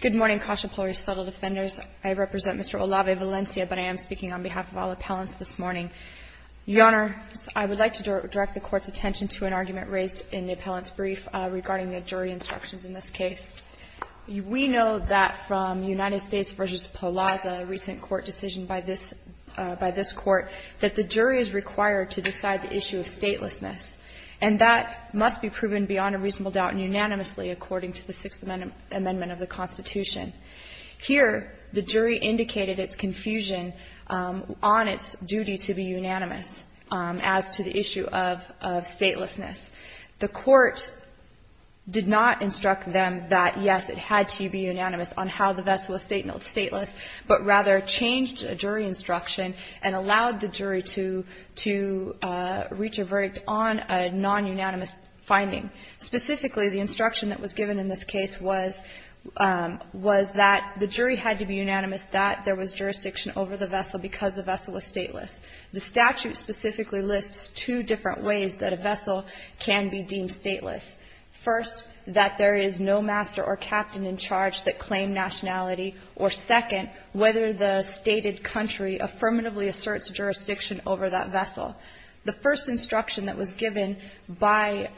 Good morning CASA Polaris fellow defenders. I represent Mr. Olave Valencia, but I am speaking on behalf of all appellants this morning. Your Honor, I would like to direct the Court's attention to an argument raised in the appellant's brief regarding the jury instructions in this case. We know that from United States v. Polazza, a recent Court decision by this Court, that the jury is required to decide the issue of statelessness, and that must be proven beyond a reasonable doubt and unanimously according to the Sixth Amendment of the Constitution. Here the jury indicated its confusion on its duty to be unanimous as to the issue of statelessness. The Court did not instruct them that, yes, it had to be unanimous on how the vessel of the vessel was stateless to reach a verdict on a non-unanimous finding. Specifically, the instruction that was given in this case was that the jury had to be unanimous that there was jurisdiction over the vessel because the vessel was stateless. The statute specifically lists two different ways that a vessel can be deemed stateless. First, that there is no master or captain in charge that claimed nationality. Or second, whether the stated country affirmatively asserts jurisdiction over that vessel. The first instruction that was given by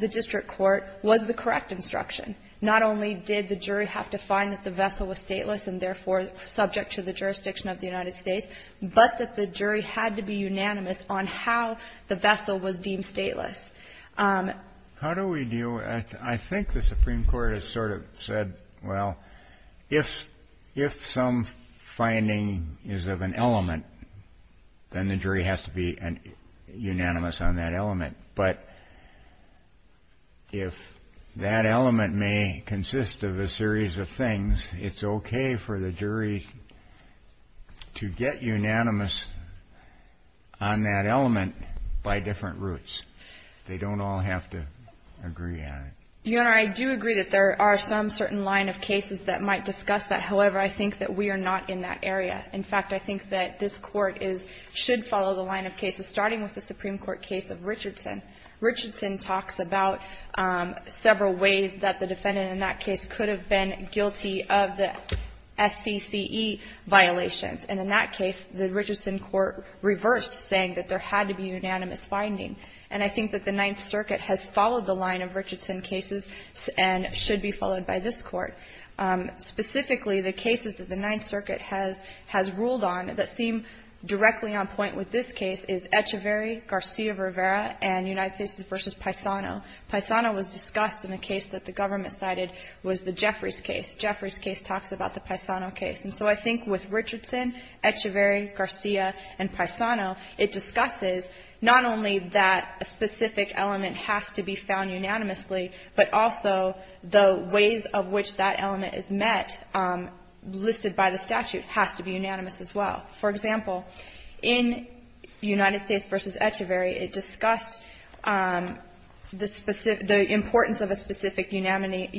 the district court was the correct instruction. Not only did the jury have to find that the vessel was stateless and, therefore, subject to the jurisdiction of the United States, but that the jury had to be unanimous on how the vessel was deemed stateless. How do we deal with that? I think the Supreme Court has sort of said, well, if some finding is of an element, then the jury has to be unanimous on that element. But if that element may consist of a series of things, it's okay for the jury to get unanimous on that element by different routes. They don't all have to agree on it. You Honor, I do agree that there are some certain line of cases that might discuss that. However, I think that we are not in that area. In fact, I think that this Court is – should follow the line of cases, starting with the Supreme Court case of Richardson. Richardson talks about several ways that the defendant in that case could have been guilty of the SCCE violations. And in that case, the Richardson court reversed, saying that there had to be unanimous finding. And I think that the Ninth Circuit has followed the line of Richardson cases and should be followed by this Court. Specifically, the cases that the Ninth Circuit has ruled on that seem directly on point with this case is Echeverry, Garcia-Rivera, and United States v. Paisano. Paisano was discussed in a case that the government cited was the Jeffries case. Jeffries case talks about the Paisano case. And so I think with Richardson, Echeverry, Garcia, and Paisano, it discusses not only that a specific element has to be found unanimously, but also the ways of which that element is met, listed by the statute, has to be unanimous as well. For example, in United States v. Echeverry, it discussed the importance of a specific unanimity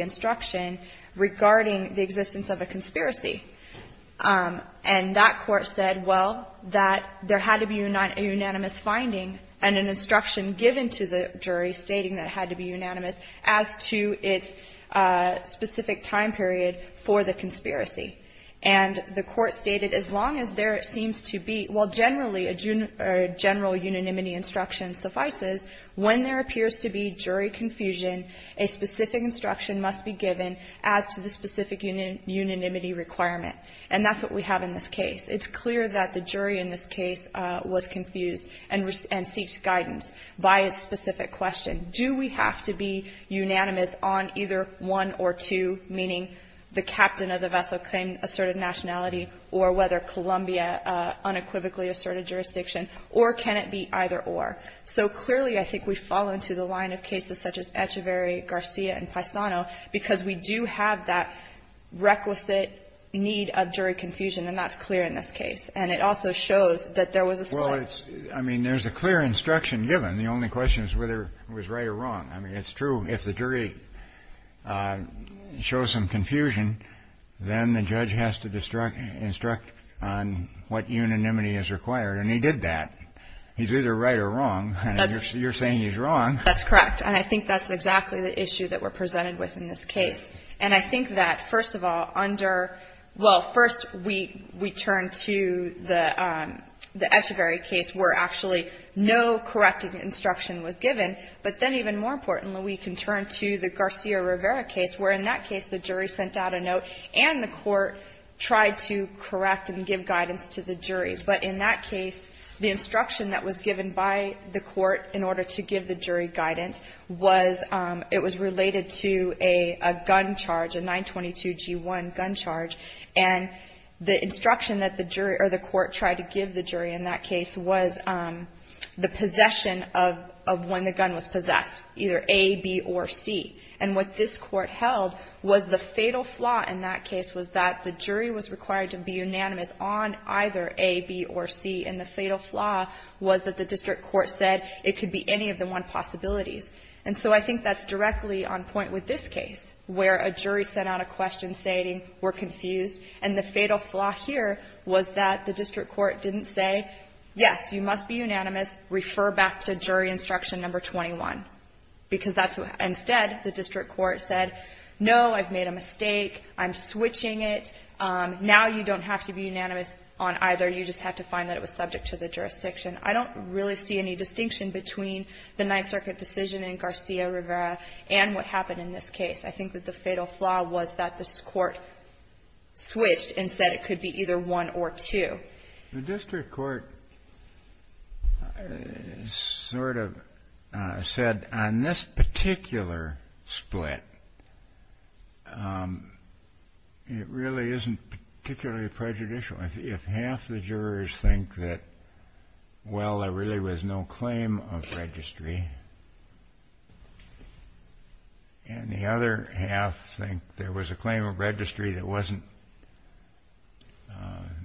instruction regarding the existence of a conspiracy. And that Court said, well, that there had to be a unanimous finding and an instruction given to the jury stating that it had to be unanimous as to its specific time period for the conspiracy. And the Court stated, as long as there seems to be – well, generally, a general unanimity instruction suffices. When there appears to be jury confusion, a specific instruction must be given as to the specific unanimity requirement. And that's what we have in this case. It's clear that the jury in this case was confused and seeks guidance by its specific question. Do we have to be unanimous on either one or two, meaning the captain of the vessel claimed asserted nationality or whether Columbia unequivocally asserted jurisdiction, or can it be either or? So clearly, I think we fall into the line of cases such as Echeverry, Garcia, and Hickman, where we do have that requisite need of jury confusion, and that's clear in this case. And it also shows that there was a split. Well, it's – I mean, there's a clear instruction given. The only question is whether it was right or wrong. I mean, it's true if the jury shows some confusion, then the judge has to instruct on what unanimity is required, and he did that. He's either right or wrong, and you're saying he's wrong. That's correct. And I think that's exactly the issue that we're presented with in this case. And I think that, first of all, under – well, first, we turn to the Echeverry case where actually no corrective instruction was given, but then even more importantly, we can turn to the Garcia-Rivera case where in that case the jury sent out a note and the court tried to correct and give guidance to the jury. But in that case, the instruction that was given by the court in order to give the jury guidance was – it was related to a gun charge, a 922-G1 gun charge. And the instruction that the jury – or the court tried to give the jury in that case was the possession of when the gun was possessed, either A, B, or C. And what this Court held was the fatal flaw in that case was that the jury was required to be unanimous on either A, B, or C, and the fatal flaw was that the district court said it could be any of the one possibilities. And so I think that's directly on point with this case where a jury sent out a question stating we're confused, and the fatal flaw here was that the district court didn't say, yes, you must be unanimous, refer back to jury instruction number 21. Because that's – instead, the district court said, no, I've made a mistake, I'm switching it, now you don't have to be unanimous on either, you just have to find that it was subject to the jurisdiction. I don't really see any distinction between the Ninth Circuit decision in Garcia-Rivera and what happened in this case. I think that the fatal flaw was that this Court switched and said it could be either one or two. The district court sort of said on this particular split, it really isn't particularly prejudicial. If half the jurors think that, well, there really was no claim of registry, and the other half think there was a claim of registry that wasn't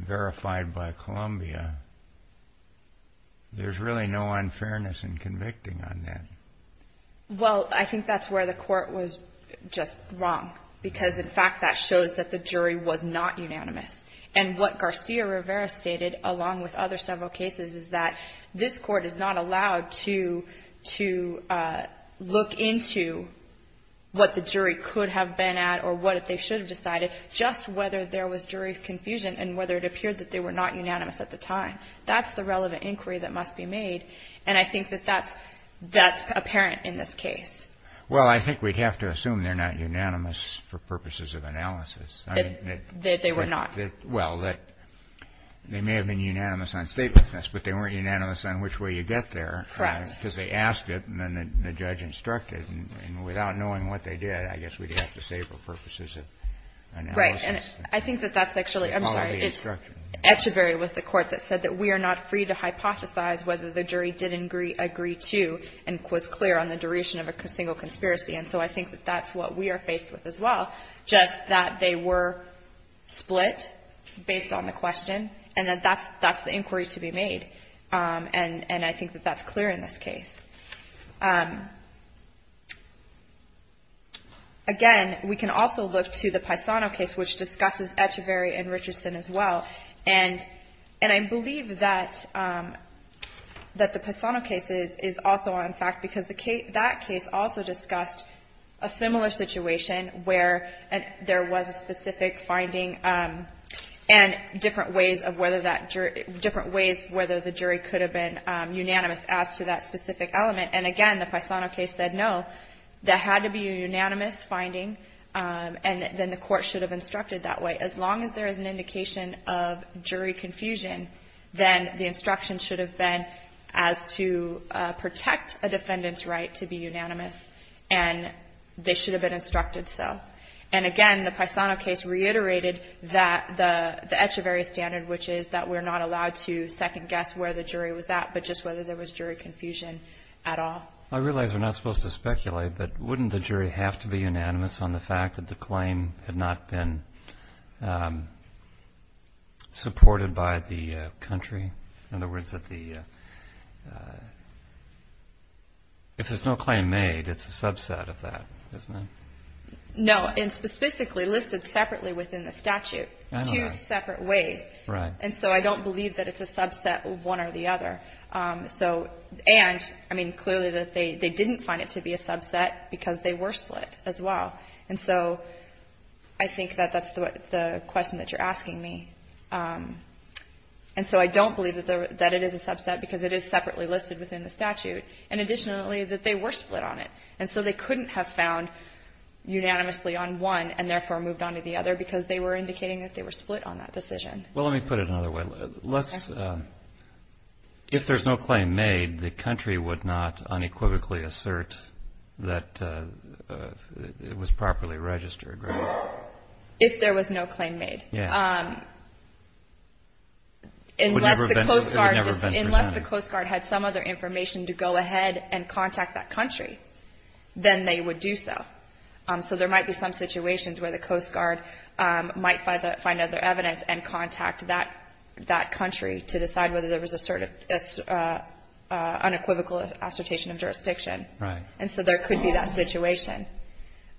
verified by Columbia, there's really no unfairness in convicting on that. Well, I think that's where the Court was just wrong, because, in fact, that shows that the jury was not unanimous, and what Garcia-Rivera stated, along with other several cases, is that this Court is not allowed to look into what the jury could have been at or what they should have decided, just whether there was jury confusion and whether it appeared that they were not unanimous at the time. That's the relevant inquiry that must be made, and I think that that's apparent in this case. Well, I think we'd have to assume they're not unanimous for purposes of analysis. They were not. Well, they may have been unanimous on statelessness, but they weren't unanimous on which way you get there. Correct. Because they asked it, and then the judge instructed, and without knowing what they did, I guess we'd have to say for purposes of analysis. And I think that that's actually the quality of instruction. I'm sorry. It's echeverry with the Court that said that we are not free to hypothesize whether the jury did agree to and was clear on the duration of a single conspiracy. And so I think that that's what we are faced with as well, just that they were split based on the question, and that that's the inquiry to be made. And I think that that's clear in this case. Again, we can also look to the Paisano case, which discusses echeverry and Richardson as well. And I believe that the Paisano case is also on fact, because that case also discussed a similar situation where there was a specific finding and different ways of whether that jury — different ways whether the jury could have been unanimous as to that specific element. And again, the Paisano case said, no, there had to be a unanimous finding, and then the Court should have instructed that way. As long as there is an indication of jury confusion, then the instruction should have been as to protect a defendant's right to be unanimous, and they should have been instructed so. And again, the Paisano case reiterated that — the echeverry standard, which is that we're not allowed to second-guess where the jury was at, but just whether there was jury confusion at all. I realize we're not supposed to speculate, but wouldn't the jury have to be unanimous on the fact that the claim had not been supported by the country? In other words, if there's no claim made, it's a subset of that, isn't it? No, and specifically listed separately within the statute, two separate ways. Right. And so I don't believe that it's a subset of one or the other. And, I mean, clearly they didn't find it to be a subset because they were split as well. And so I think that that's the question that you're asking me. And so I don't believe that it is a subset because it is separately listed within the statute. And additionally, that they were split on it. And so they couldn't have found unanimously on one and therefore moved on to the other because they were indicating that they were split on that decision. Well, let me put it another way. Let's, if there's no claim made, the country would not unequivocally assert that it was properly registered, right? If there was no claim made. Yeah. Unless the Coast Guard had some other information to go ahead and contact that country, then they would do so. So there might be some situations where the Coast Guard might find other evidence and contact that country to decide whether there was an unequivocal assertion of jurisdiction. Right. And so there could be that situation.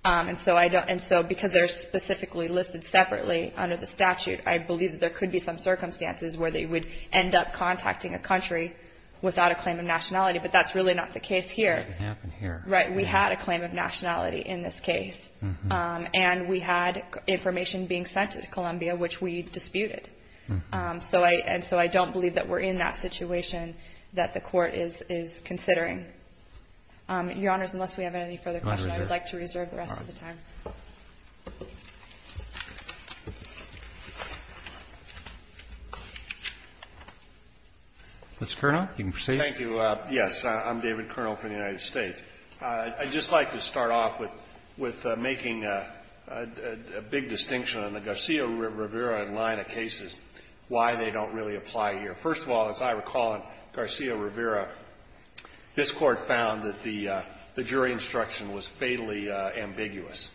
And so because they're specifically listed separately under the statute, I believe that there could be some circumstances where they would end up contacting a country without a claim of nationality. But that's really not the case here. It didn't happen here. Right. We had a claim of nationality in this case. And we had information being sent to Columbia, which we disputed. So I don't believe that we're in that situation that the Court is considering. Your Honors, unless we have any further questions, I would like to reserve the rest of the time. Mr. Kernow, you can proceed. Thank you. Yes. I'm David Kernow from the United States. I'd just like to start off with making a big distinction on the Garcia-Rivera line of cases, why they don't really apply here. First of all, as I recall in Garcia-Rivera, this Court found that the jury instruction was fatally ambiguous.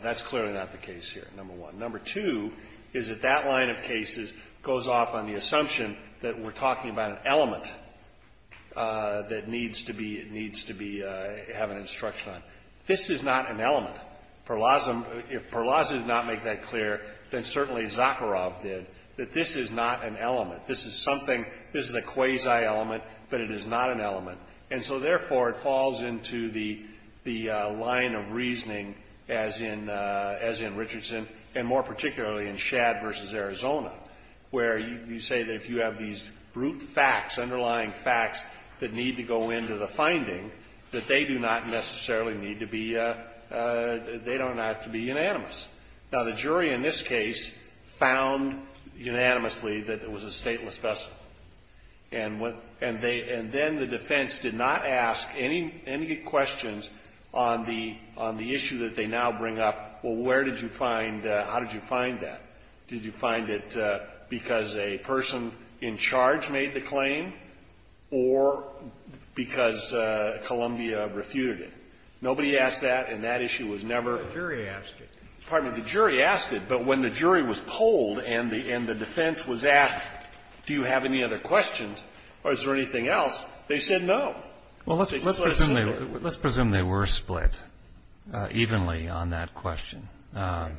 That's clearly not the case here, number one. Number two is that that line of cases goes off on the assumption that we're talking about an element that needs to be — needs to be — have an instruction on. This is not an element. Perlazza — if Perlazza did not make that clear, then certainly Zakharov did, that this is not an element. This is something — this is a quasi-element, but it is not an element. And so, therefore, it falls into the — the line of reasoning as in — as in Richardson, and more particularly in Shadd v. Arizona, where you say that if you have these brute facts, underlying facts, that need to go into the finding, that they do not necessarily need to be — they don't have to be unanimous. Now, the jury in this case found unanimously that it was a stateless vessel. And they — and then the defense did not ask any — any questions on the — on the issue that they now bring up, well, where did you find — how did you find that? Did you find it because a person in charge made the claim or because Columbia refuted it? Nobody asked that, and that issue was never — The jury asked it. Pardon me. The jury asked it. But when the jury was polled and the — and the defense was asked, do you have any other questions, or is there anything else, they said no. Well, let's — let's presume they — let's presume they were split evenly on that question. Right.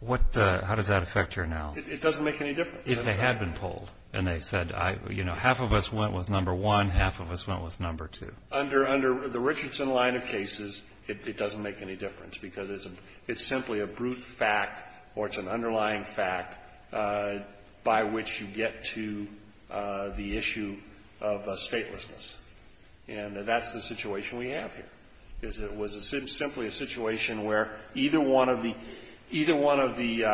What — how does that affect your analysis? It doesn't make any difference. If they had been polled and they said, you know, half of us went with number one, half of us went with number two. Under the Richardson line of cases, it doesn't make any difference because it's a — it's simply a brute fact or it's an underlying fact by which you get to the issue of statelessness. And that's the situation we have here, is it was a — simply a situation where either one of the — either one of the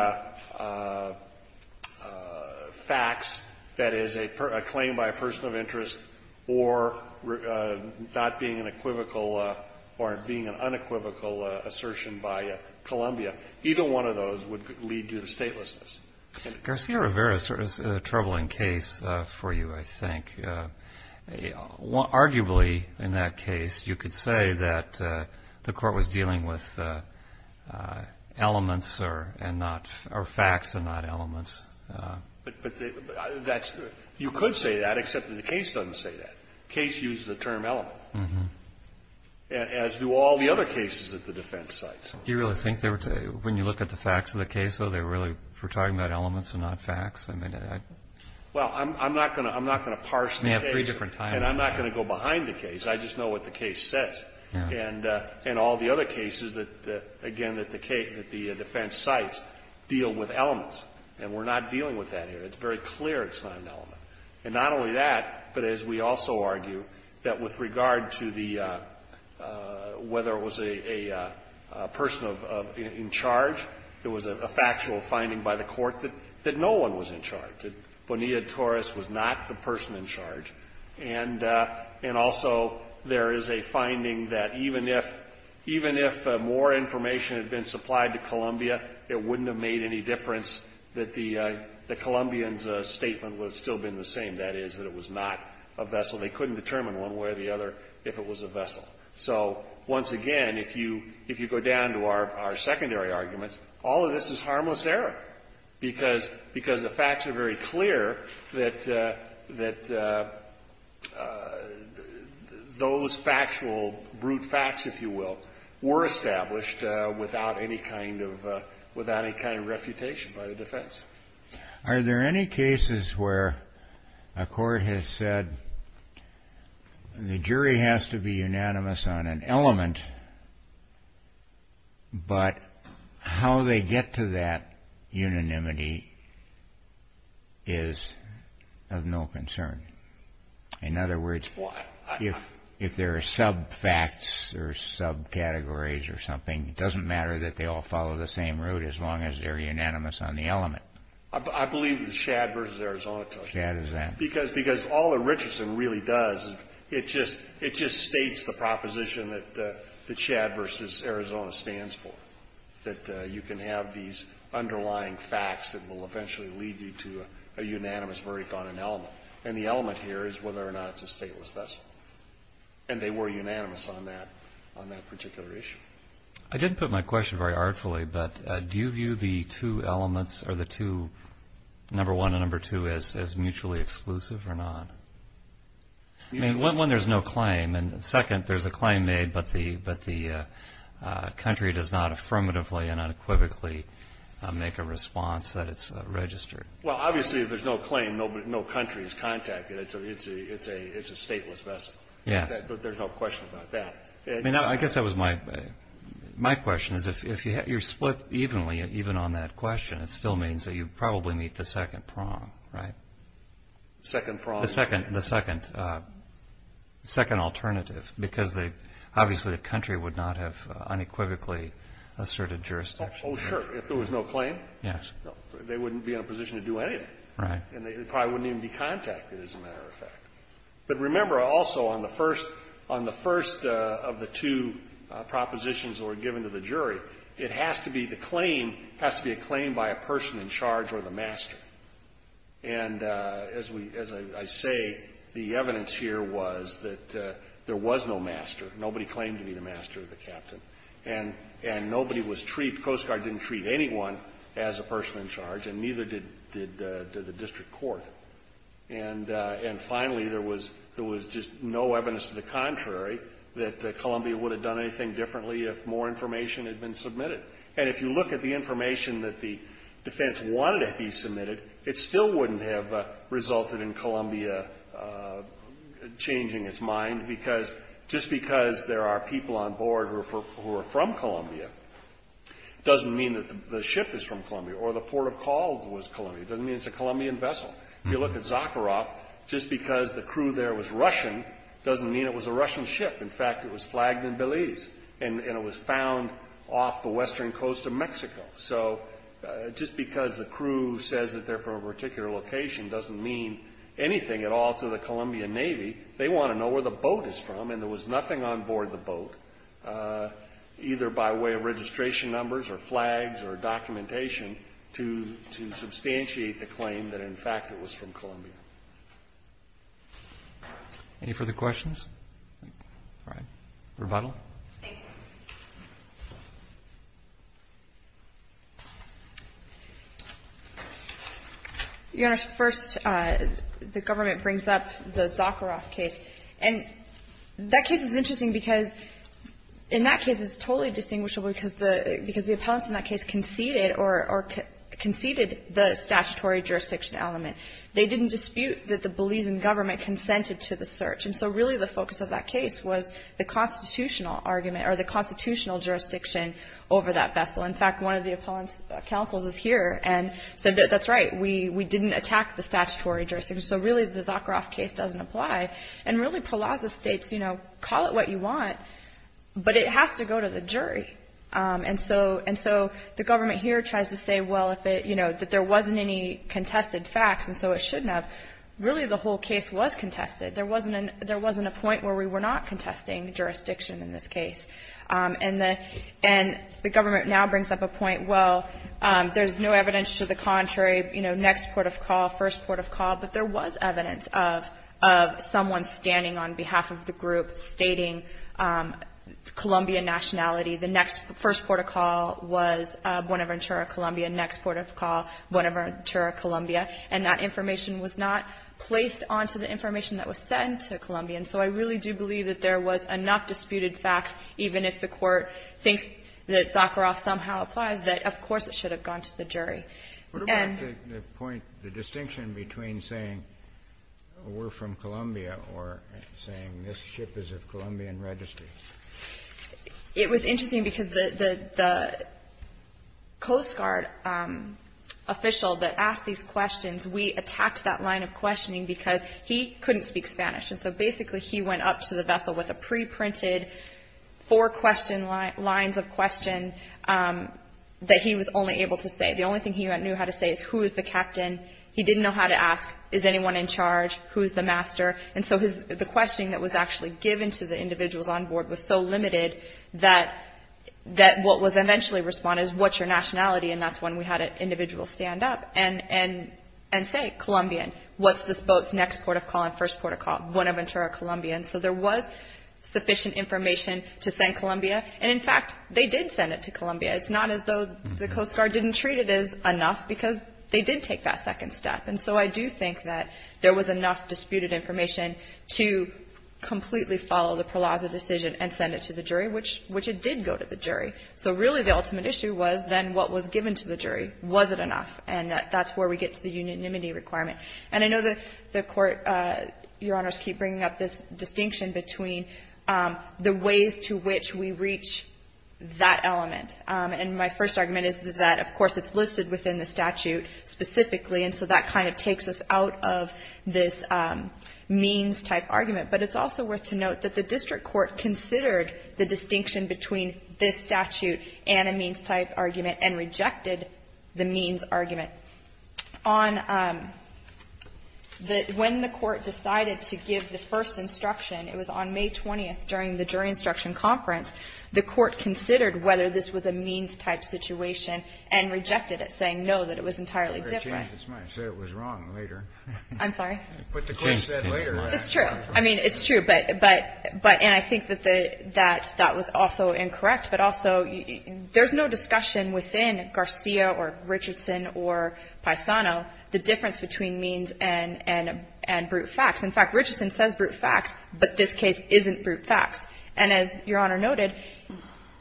facts, that is, a claim by a person of interest or not being an equivocal or being an unequivocal assertion by Columbia, either one of those would lead to the statelessness. Garcia-Rivera is a troubling case for you, I think. I mean, you could say — arguably, in that case, you could say that the Court was dealing with elements and not — or facts and not elements. But that's — you could say that, except that the case doesn't say that. Case uses the term element, as do all the other cases at the defense sites. Do you really think they were — when you look at the facts of the case, though, they were really — were talking about elements and not facts? I mean, I — Well, I'm not going to — I'm not going to parse the case. You may have three different times. And I'm not going to go behind the case. I just know what the case says. And all the other cases that, again, that the defense sites deal with elements. And we're not dealing with that here. It's very clear it's not an element. And not only that, but as we also argue, that with regard to the — whether it was a person of — in charge, there was a factual finding by the Court that no one was in charge, that Bonilla-Torres was not the person in charge. And also, there is a finding that even if more information had been supplied to Columbia, it wouldn't have made any difference that the Columbians' statement would have still been the same, that is, that it was not a vessel. They couldn't determine one way or the other if it was a vessel. So, once again, if you — if you go down to our secondary arguments, all of this is harmless error, because the facts are very clear that those factual, brute facts, if you will, were established without any kind of — without any kind of refutation by the defense. Are there any cases where a court has said the jury has to be unanimous on an element, but how they get to that unanimity is of no concern? In other words, if there are sub-facts or sub-categories or something, it doesn't matter that they all follow the same route as long as they're unanimous on the element. I believe that the Shad v. Arizona tells you that. Shad does that. Because all that Richardson really does is it just states the proposition that Shad v. Arizona stands for, that you can have these underlying facts that will eventually lead you to a unanimous verdict on an element. And the element here is whether or not it's a stateless vessel. And they were unanimous on that particular issue. I didn't put my question very artfully, but do you view the two elements, or the two — number one and number two — as mutually exclusive or not? I mean, one, there's no claim, and second, there's a claim made, but the country does not affirmatively and unequivocally make a response that it's registered. Well, obviously, if there's no claim, no country is contacted. It's a stateless vessel. Yes. But there's no question about that. I mean, I guess that was my question, is if you're split evenly, even on that question, it still means that you probably meet the second prong, right? Second prong? The second alternative, because obviously the country would not have unequivocally asserted jurisdiction. Oh, sure. If there was no claim, they wouldn't be in a position to do anything. Right. And they probably wouldn't even be contacted, as a matter of fact. But remember, also, on the first — on the first of the two propositions that were given to the jury, it has to be — the claim has to be a claim by a person in charge or the master. And as we — as I say, the evidence here was that there was no master. Nobody claimed to be the master or the captain. And nobody was treated — Coast Guard didn't treat anyone as a person in charge, and neither did the district court. And finally, there was — there was just no evidence to the contrary that Columbia would have done anything differently if more information had been submitted. And if you look at the information that the defense wanted to be submitted, it still wouldn't have resulted in Columbia changing its mind, because just because there are people on board who are from Columbia doesn't mean that the ship is from Columbia or the port of calls was Columbia. It doesn't mean it's a Colombian vessel. If you look at Zakharoff, just because the crew there was Russian doesn't mean it was a Russian ship. In fact, it was flagged in Belize, and it was found off the western coast of Mexico. So just because the crew says that they're from a particular location doesn't mean anything at all to the Colombian Navy. They want to know where the boat is from, and there was nothing on board the boat, either by way of registration numbers or flags or documentation, to substantiate the claim that, in fact, it was from Columbia. Roberts. Any further questions? All right. Rebuttal. Thank you. Your Honor, first, the government brings up the Zakharoff case. And that case is interesting because, in that case, it's totally distinguishable because the appellants in that case conceded the statutory jurisdiction element. They didn't dispute that the Belizean government consented to the search. And so, really, the focus of that case was the constitutional argument or the constitutional jurisdiction over that vessel. In fact, one of the appellant's counsels is here and said, that's right, we didn't attack the statutory jurisdiction. So, really, the Zakharoff case doesn't apply. And, really, Pralaza states, you know, call it what you want, but it has to go to the jury. And so the government here tries to say, well, if it, you know, that there wasn't any contested facts, and so it shouldn't have. Really, the whole case was contested. There wasn't a point where we were not contesting jurisdiction in this case. And the government now brings up a point, well, there's no evidence to the contrary, you know, next port of call, first port of call. But there was evidence of someone standing on behalf of the group stating Colombian nationality. The next first port of call was Buenaventura, Colombia. Next port of call, Buenaventura, Colombia. And that information was not placed onto the information that was sent to Colombians. So I really do believe that there was enough disputed facts, even if the Court thinks that Zakharoff somehow applies, that, of course, it should have gone to the jury. And What about the point, the distinction between saying we're from Colombia or saying this ship is of Colombian registry? It was interesting because the Coast Guard official that asked these questions, we attacked that line of questioning because he couldn't speak Spanish. And so basically, he went up to the vessel with a pre-printed four-question lines of question that he was only able to say. The only thing he knew how to say is, who is the captain? He didn't know how to ask, is anyone in charge? Who's the master? And so the questioning that was actually given to the individuals on board was so limited that what was eventually responded is, what's your nationality? And that's when we had an individual stand up and say, Colombian, what's this boat's next port of call and first port of call? Buenaventura, Colombia. And so there was sufficient information to send Colombia. And in fact, they did send it to Colombia. It's not as though the Coast Guard didn't treat it as enough because they did take that second step. And so I do think that there was enough disputed information to completely follow the Peralaza decision and send it to the jury, which it did go to the jury. So really, the ultimate issue was then what was given to the jury. Was it enough? And that's where we get to the unanimity requirement. And I know that the Court, Your Honors, keep bringing up this distinction between the ways to which we reach that element. And my first argument is that, of course, it's listed within the statute specifically. And so that kind of takes us out of this means-type argument. But it's also worth to note that the district court considered the distinction between this statute and a means-type argument and rejected the means argument. On the — when the Court decided to give the first instruction, it was on May 20th during the jury instruction conference. The Court considered whether this was a means-type situation and rejected it, saying, no, that it was entirely different. Kennedy, I'm sorry, but the Court said later. It's true. I mean, it's true, but — and I think that that was also incorrect. But also, there's no discussion within Garcia or Richardson or Paisano, the difference between means and — and brute facts. In fact, Richardson says brute facts, but this case isn't brute facts. And as Your Honor noted,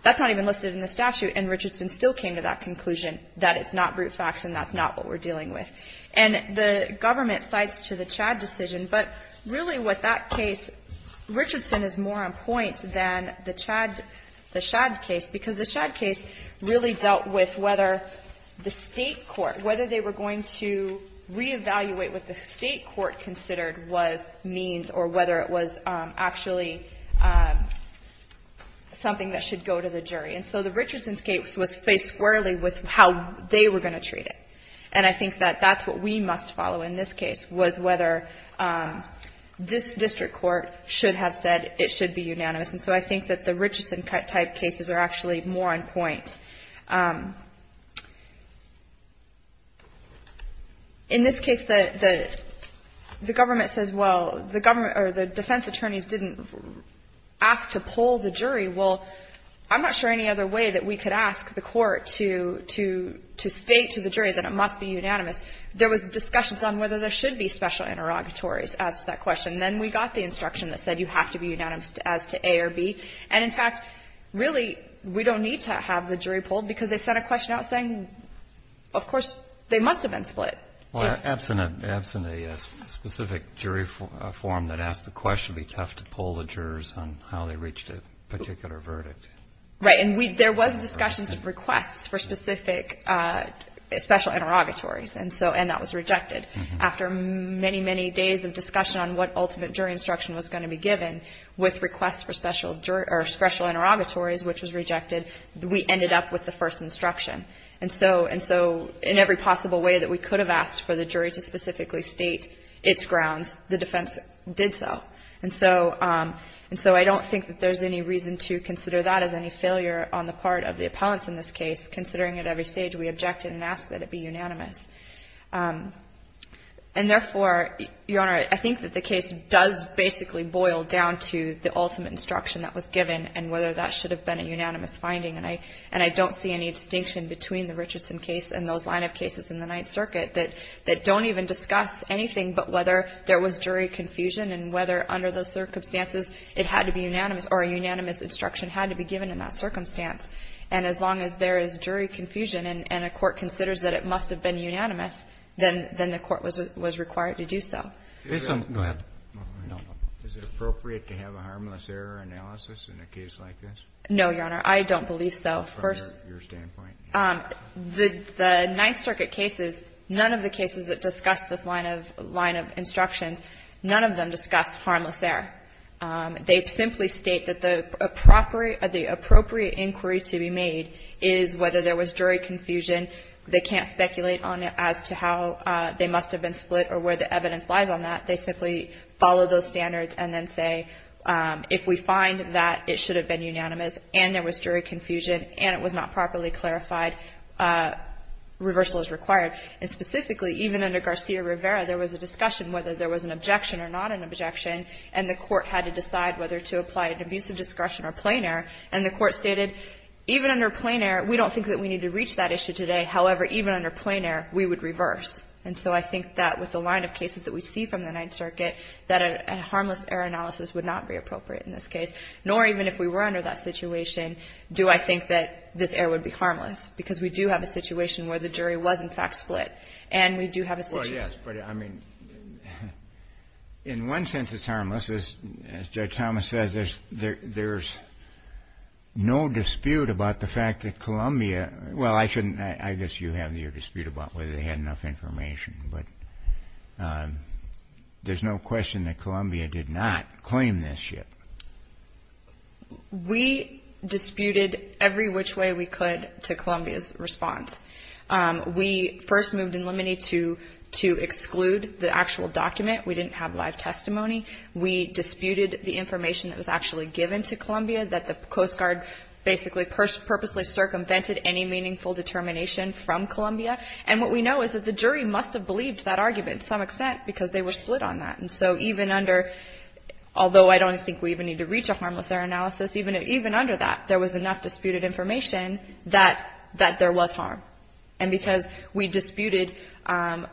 that's not even listed in the statute, and Richardson still came to that conclusion, that it's not brute facts and that's not what we're dealing with. And the government cites to the Chad decision. But really, with that case, Richardson is more on point than the Chad — the Shad case, because the Shad case really dealt with whether the State court, whether they were going to reevaluate what the State court considered was means or whether it was actually something that should go to the jury. And so the Richardson case was faced squarely with how they were going to treat it. And I think that that's what we must follow in this case, was whether this district court should have said it should be unanimous. And so I think that the Richardson-type cases are actually more on point. In this case, the government says, well, the government — or the defense attorneys didn't ask to poll the jury. Well, I'm not sure any other way that we could ask the court to — to state to the jury that you have to be unanimous. There was discussions on whether there should be special interrogatories as to that question. And then we got the instruction that said you have to be unanimous as to A or B. And, in fact, really, we don't need to have the jury polled, because they sent a question out saying, of course, they must have been split. Yes. Well, absent a specific jury form that asked the question, it would be tough to poll the jurors on how they reached a particular verdict. Right. And we — there was discussions of requests for specific special interrogatories. And so — and that was rejected. After many, many days of discussion on what ultimate jury instruction was going to be given, with requests for special — or special interrogatories, which was rejected, we ended up with the first instruction. And so — and so in every possible way that we could have asked for the jury to specifically state its grounds, the defense did so. And so — and so I don't think that there's any reason to consider that as any failure on the part of the appellants in this case, considering at every stage we objected and asked that it be unanimous. And, therefore, Your Honor, I think that the case does basically boil down to the ultimate instruction that was given and whether that should have been a unanimous finding. And I — and I don't see any distinction between the Richardson case and those line-of-cases in the Ninth Circuit that — that don't even discuss anything but whether there was a harmless error under those circumstances. It had to be unanimous, or a unanimous instruction had to be given in that circumstance. And as long as there is jury confusion and — and a court considers that it must have been unanimous, then — then the court was — was required to do so. Go ahead. No. Is it appropriate to have a harmless error analysis in a case like this? No, Your Honor. I don't believe so. From your standpoint? The — the Ninth Circuit cases, none of the cases that discuss this line of — line of evidence have a harmless error. They simply state that the appropriate — the appropriate inquiry to be made is whether there was jury confusion. They can't speculate on it as to how they must have been split or where the evidence lies on that. They simply follow those standards and then say, if we find that it should have been unanimous and there was jury confusion and it was not properly clarified, reversal is required. And specifically, even under Garcia-Rivera, there was a discussion whether there was an objection, and the court had to decide whether to apply an abusive discretion or plain error. And the court stated, even under plain error, we don't think that we need to reach that issue today. However, even under plain error, we would reverse. And so I think that with the line of cases that we see from the Ninth Circuit, that a — a harmless error analysis would not be appropriate in this case, nor even if we were under that situation do I think that this error would be harmless, because we do have a situation where the jury was, in fact, split. And we do have a situation — In one sense, it's harmless. As Judge Thomas says, there's — there's no dispute about the fact that Columbia — well, I shouldn't — I guess you have your dispute about whether they had enough information, but there's no question that Columbia did not claim this yet. We disputed every which way we could to Columbia's response. We first moved in limine to — to exclude the actual document. We didn't have live testimony. We disputed the information that was actually given to Columbia, that the Coast Guard basically purposely circumvented any meaningful determination from Columbia. And what we know is that the jury must have believed that argument to some extent because they were split on that. And so even under — although I don't think we even need to reach a harmless error analysis, even — even under that, there was enough disputed information that — that was harm. And because we disputed —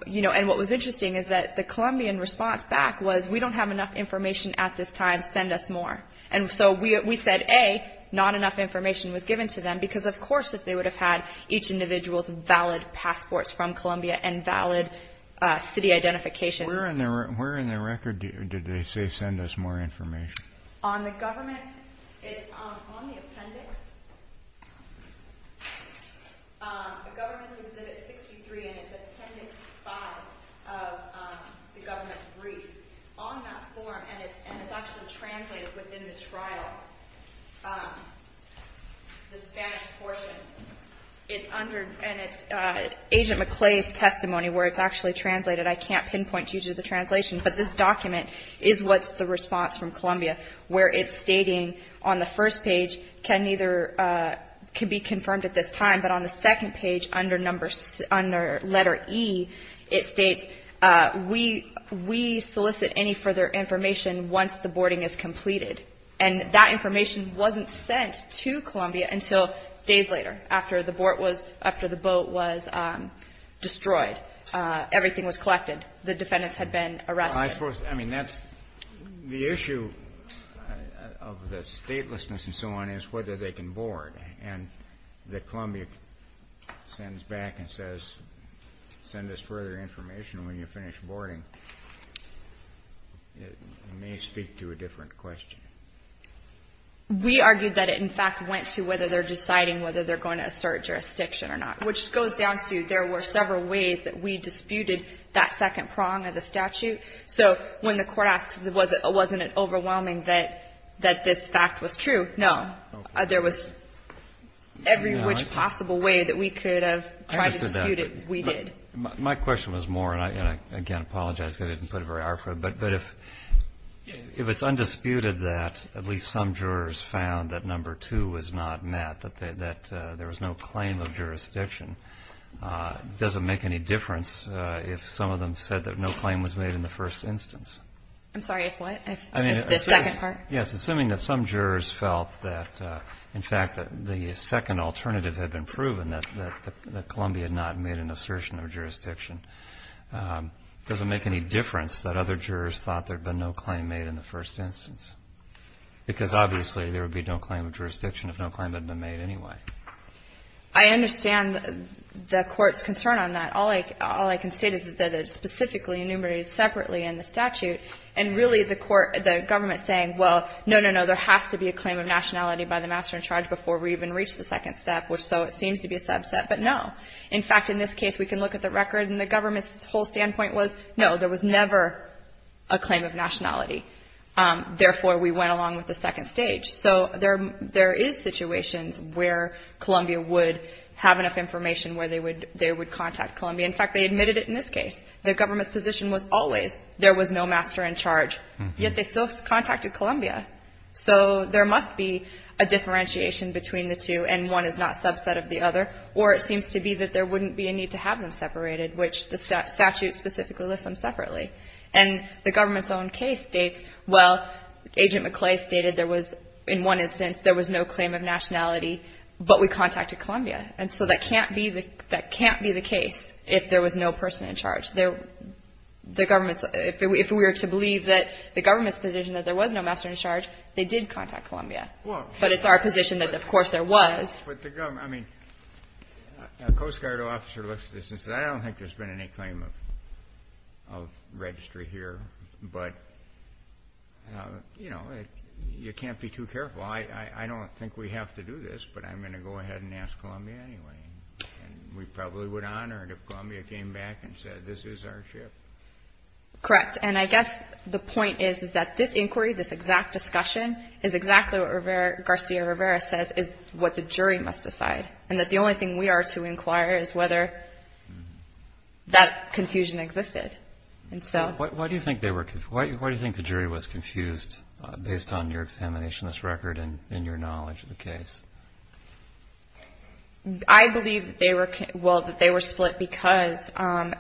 you know, and what was interesting is that the Columbian response back was, we don't have enough information at this time. Send us more. And so we — we said, A, not enough information was given to them, because, of course, if they would have had each individual's valid passports from Columbia and valid city identification — Where in the — where in the record did they say, send us more information? On the government's — it's on the appendix, the government's Exhibit 63, and it's Appendix 5 of the government's brief. On that form, and it's — and it's actually translated within the trial, the Spanish portion, it's under — and it's Agent McClay's testimony where it's actually translated. I can't pinpoint due to the translation, but this document is what's the response from Columbia, where it's stating on the first page, can neither — can be confirmed at this time. But on the second page, under number — under letter E, it states, we — we solicit any further information once the boarding is completed. And that information wasn't sent to Columbia until days later, after the board was — after the boat was destroyed. Everything was collected. The defendants had been arrested. I mean, that's — the issue of the statelessness and so on is whether they can board. And that Columbia sends back and says, send us further information when you finish boarding, it may speak to a different question. We argued that it, in fact, went to whether they're deciding whether they're going to assert jurisdiction or not, which goes down to there were several ways that we disputed that second prong of the statute. So when the court asks, wasn't it overwhelming that this fact was true? No. There was every which possible way that we could have tried to dispute it, we did. My question was more, and I can't apologize because I didn't put a very hard foot, but if it's undisputed that at least some jurors found that number two was not met, that there was no claim of jurisdiction, does it make any difference if some of them said that no claim was made in the first instance? I'm sorry, if what? I mean, assuming that some jurors felt that, in fact, the second alternative had been proven, that Columbia had not made an assertion of jurisdiction, does it make any difference that other jurors thought there had been no claim made in the first instance? Because obviously, there would be no claim of jurisdiction if no claim had been made anyway. I understand the court's concern on that. All I can say is that it's specifically enumerated separately in the statute, and really the court, the government saying, well, no, no, no, there has to be a claim of nationality by the master in charge before we even reach the second step, which so it seems to be a subset, but no. In fact, in this case, we can look at the record, and the government's whole standpoint was, no, there was never a claim of nationality. Therefore, we went along with the second stage. So there is situations where Columbia would have enough information where they would contact Columbia. In fact, they admitted it in this case. The government's position was always there was no master in charge, yet they still contacted Columbia. So there must be a differentiation between the two, and one is not subset of the other, or it seems to be that there wouldn't be a need to have them separated, which the statute specifically lists them separately. And the government's own case states, well, Agent McClay stated there was, in one instance, there was no claim of nationality, but we contacted Columbia. And so that can't be the case if there was no person in charge. The government's, if we were to believe that the government's position that there was no master in charge, they did contact Columbia. But it's our position that, of course, there was. I mean, a Coast Guard officer looks at this and says, I don't think there's been any claim of registry here. But, you know, you can't be too careful. I don't think we have to do this, but I'm going to go ahead and ask Columbia anyway. And we probably would honor it if Columbia came back and said, this is our ship. Correct. And I guess the point is, is that this inquiry, this exact discussion, is exactly what Garcia-Rivera says is what the jury must decide. And that the only thing we are to inquire is whether that confusion existed. And so- Why do you think they were, why do you think the jury was confused based on your examination of this record and your knowledge of the case? I believe that they were, well, that they were split because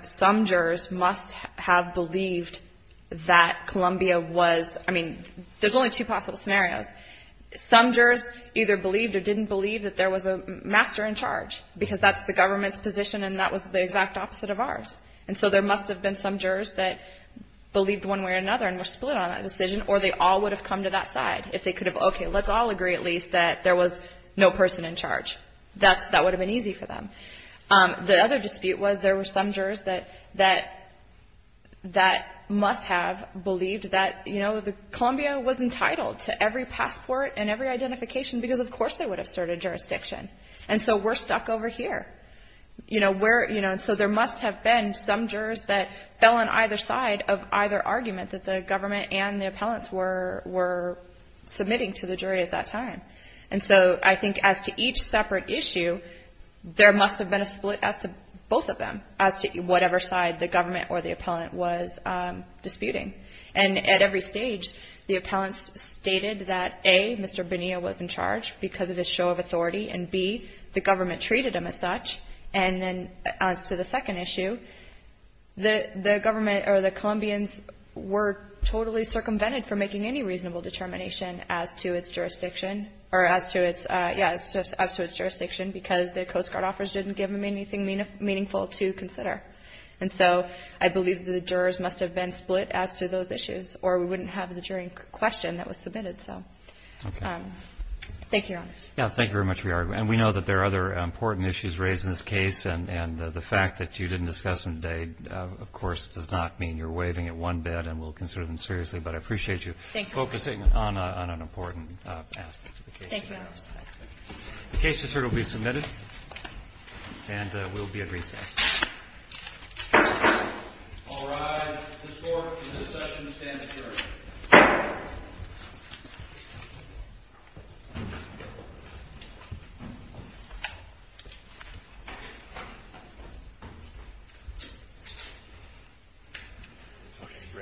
some jurors must have believed that Columbia was, I mean, there's only two possible scenarios. Some jurors either believed or didn't believe that there was a master in charge, because that's the government's position and that was the exact opposite of ours. And so there must have been some jurors that believed one way or another and were split on that decision, or they all would have come to that side if they could have, okay, let's all agree at least that there was no person in charge. That would have been easy for them. The other dispute was there were some jurors that must have believed that, Columbia was entitled to every passport and every identification because of course they would have served a jurisdiction. And so we're stuck over here. So there must have been some jurors that fell on either side of either argument that the government and the appellants were submitting to the jury at that time. And so I think as to each separate issue, there must have been a split as to both of them, as to whatever side the government or the appellant was disputing. And at every stage, the appellants stated that, A, Mr. Bonilla was in charge because of his show of authority, and B, the government treated him as such. And then as to the second issue, the government or the Colombians were totally circumvented for making any reasonable determination as to its jurisdiction. Or as to its, yeah, as to its jurisdiction because the Coast Guard offers didn't give them anything meaningful to consider. And so I believe that the jurors must have been split as to those issues, or we wouldn't have the jury question that was submitted. So, thank you, Your Honors. Yeah, thank you very much for your argument. And we know that there are other important issues raised in this case. And the fact that you didn't discuss them today, of course, does not mean you're waiving it one bit and we'll consider them seriously. But I appreciate you focusing on an important aspect of the case. Thank you, Your Honors. The case will be submitted and we'll be at recess. All rise. This court, in this session, stands adjourned. Thank you. Thank you. Thank you.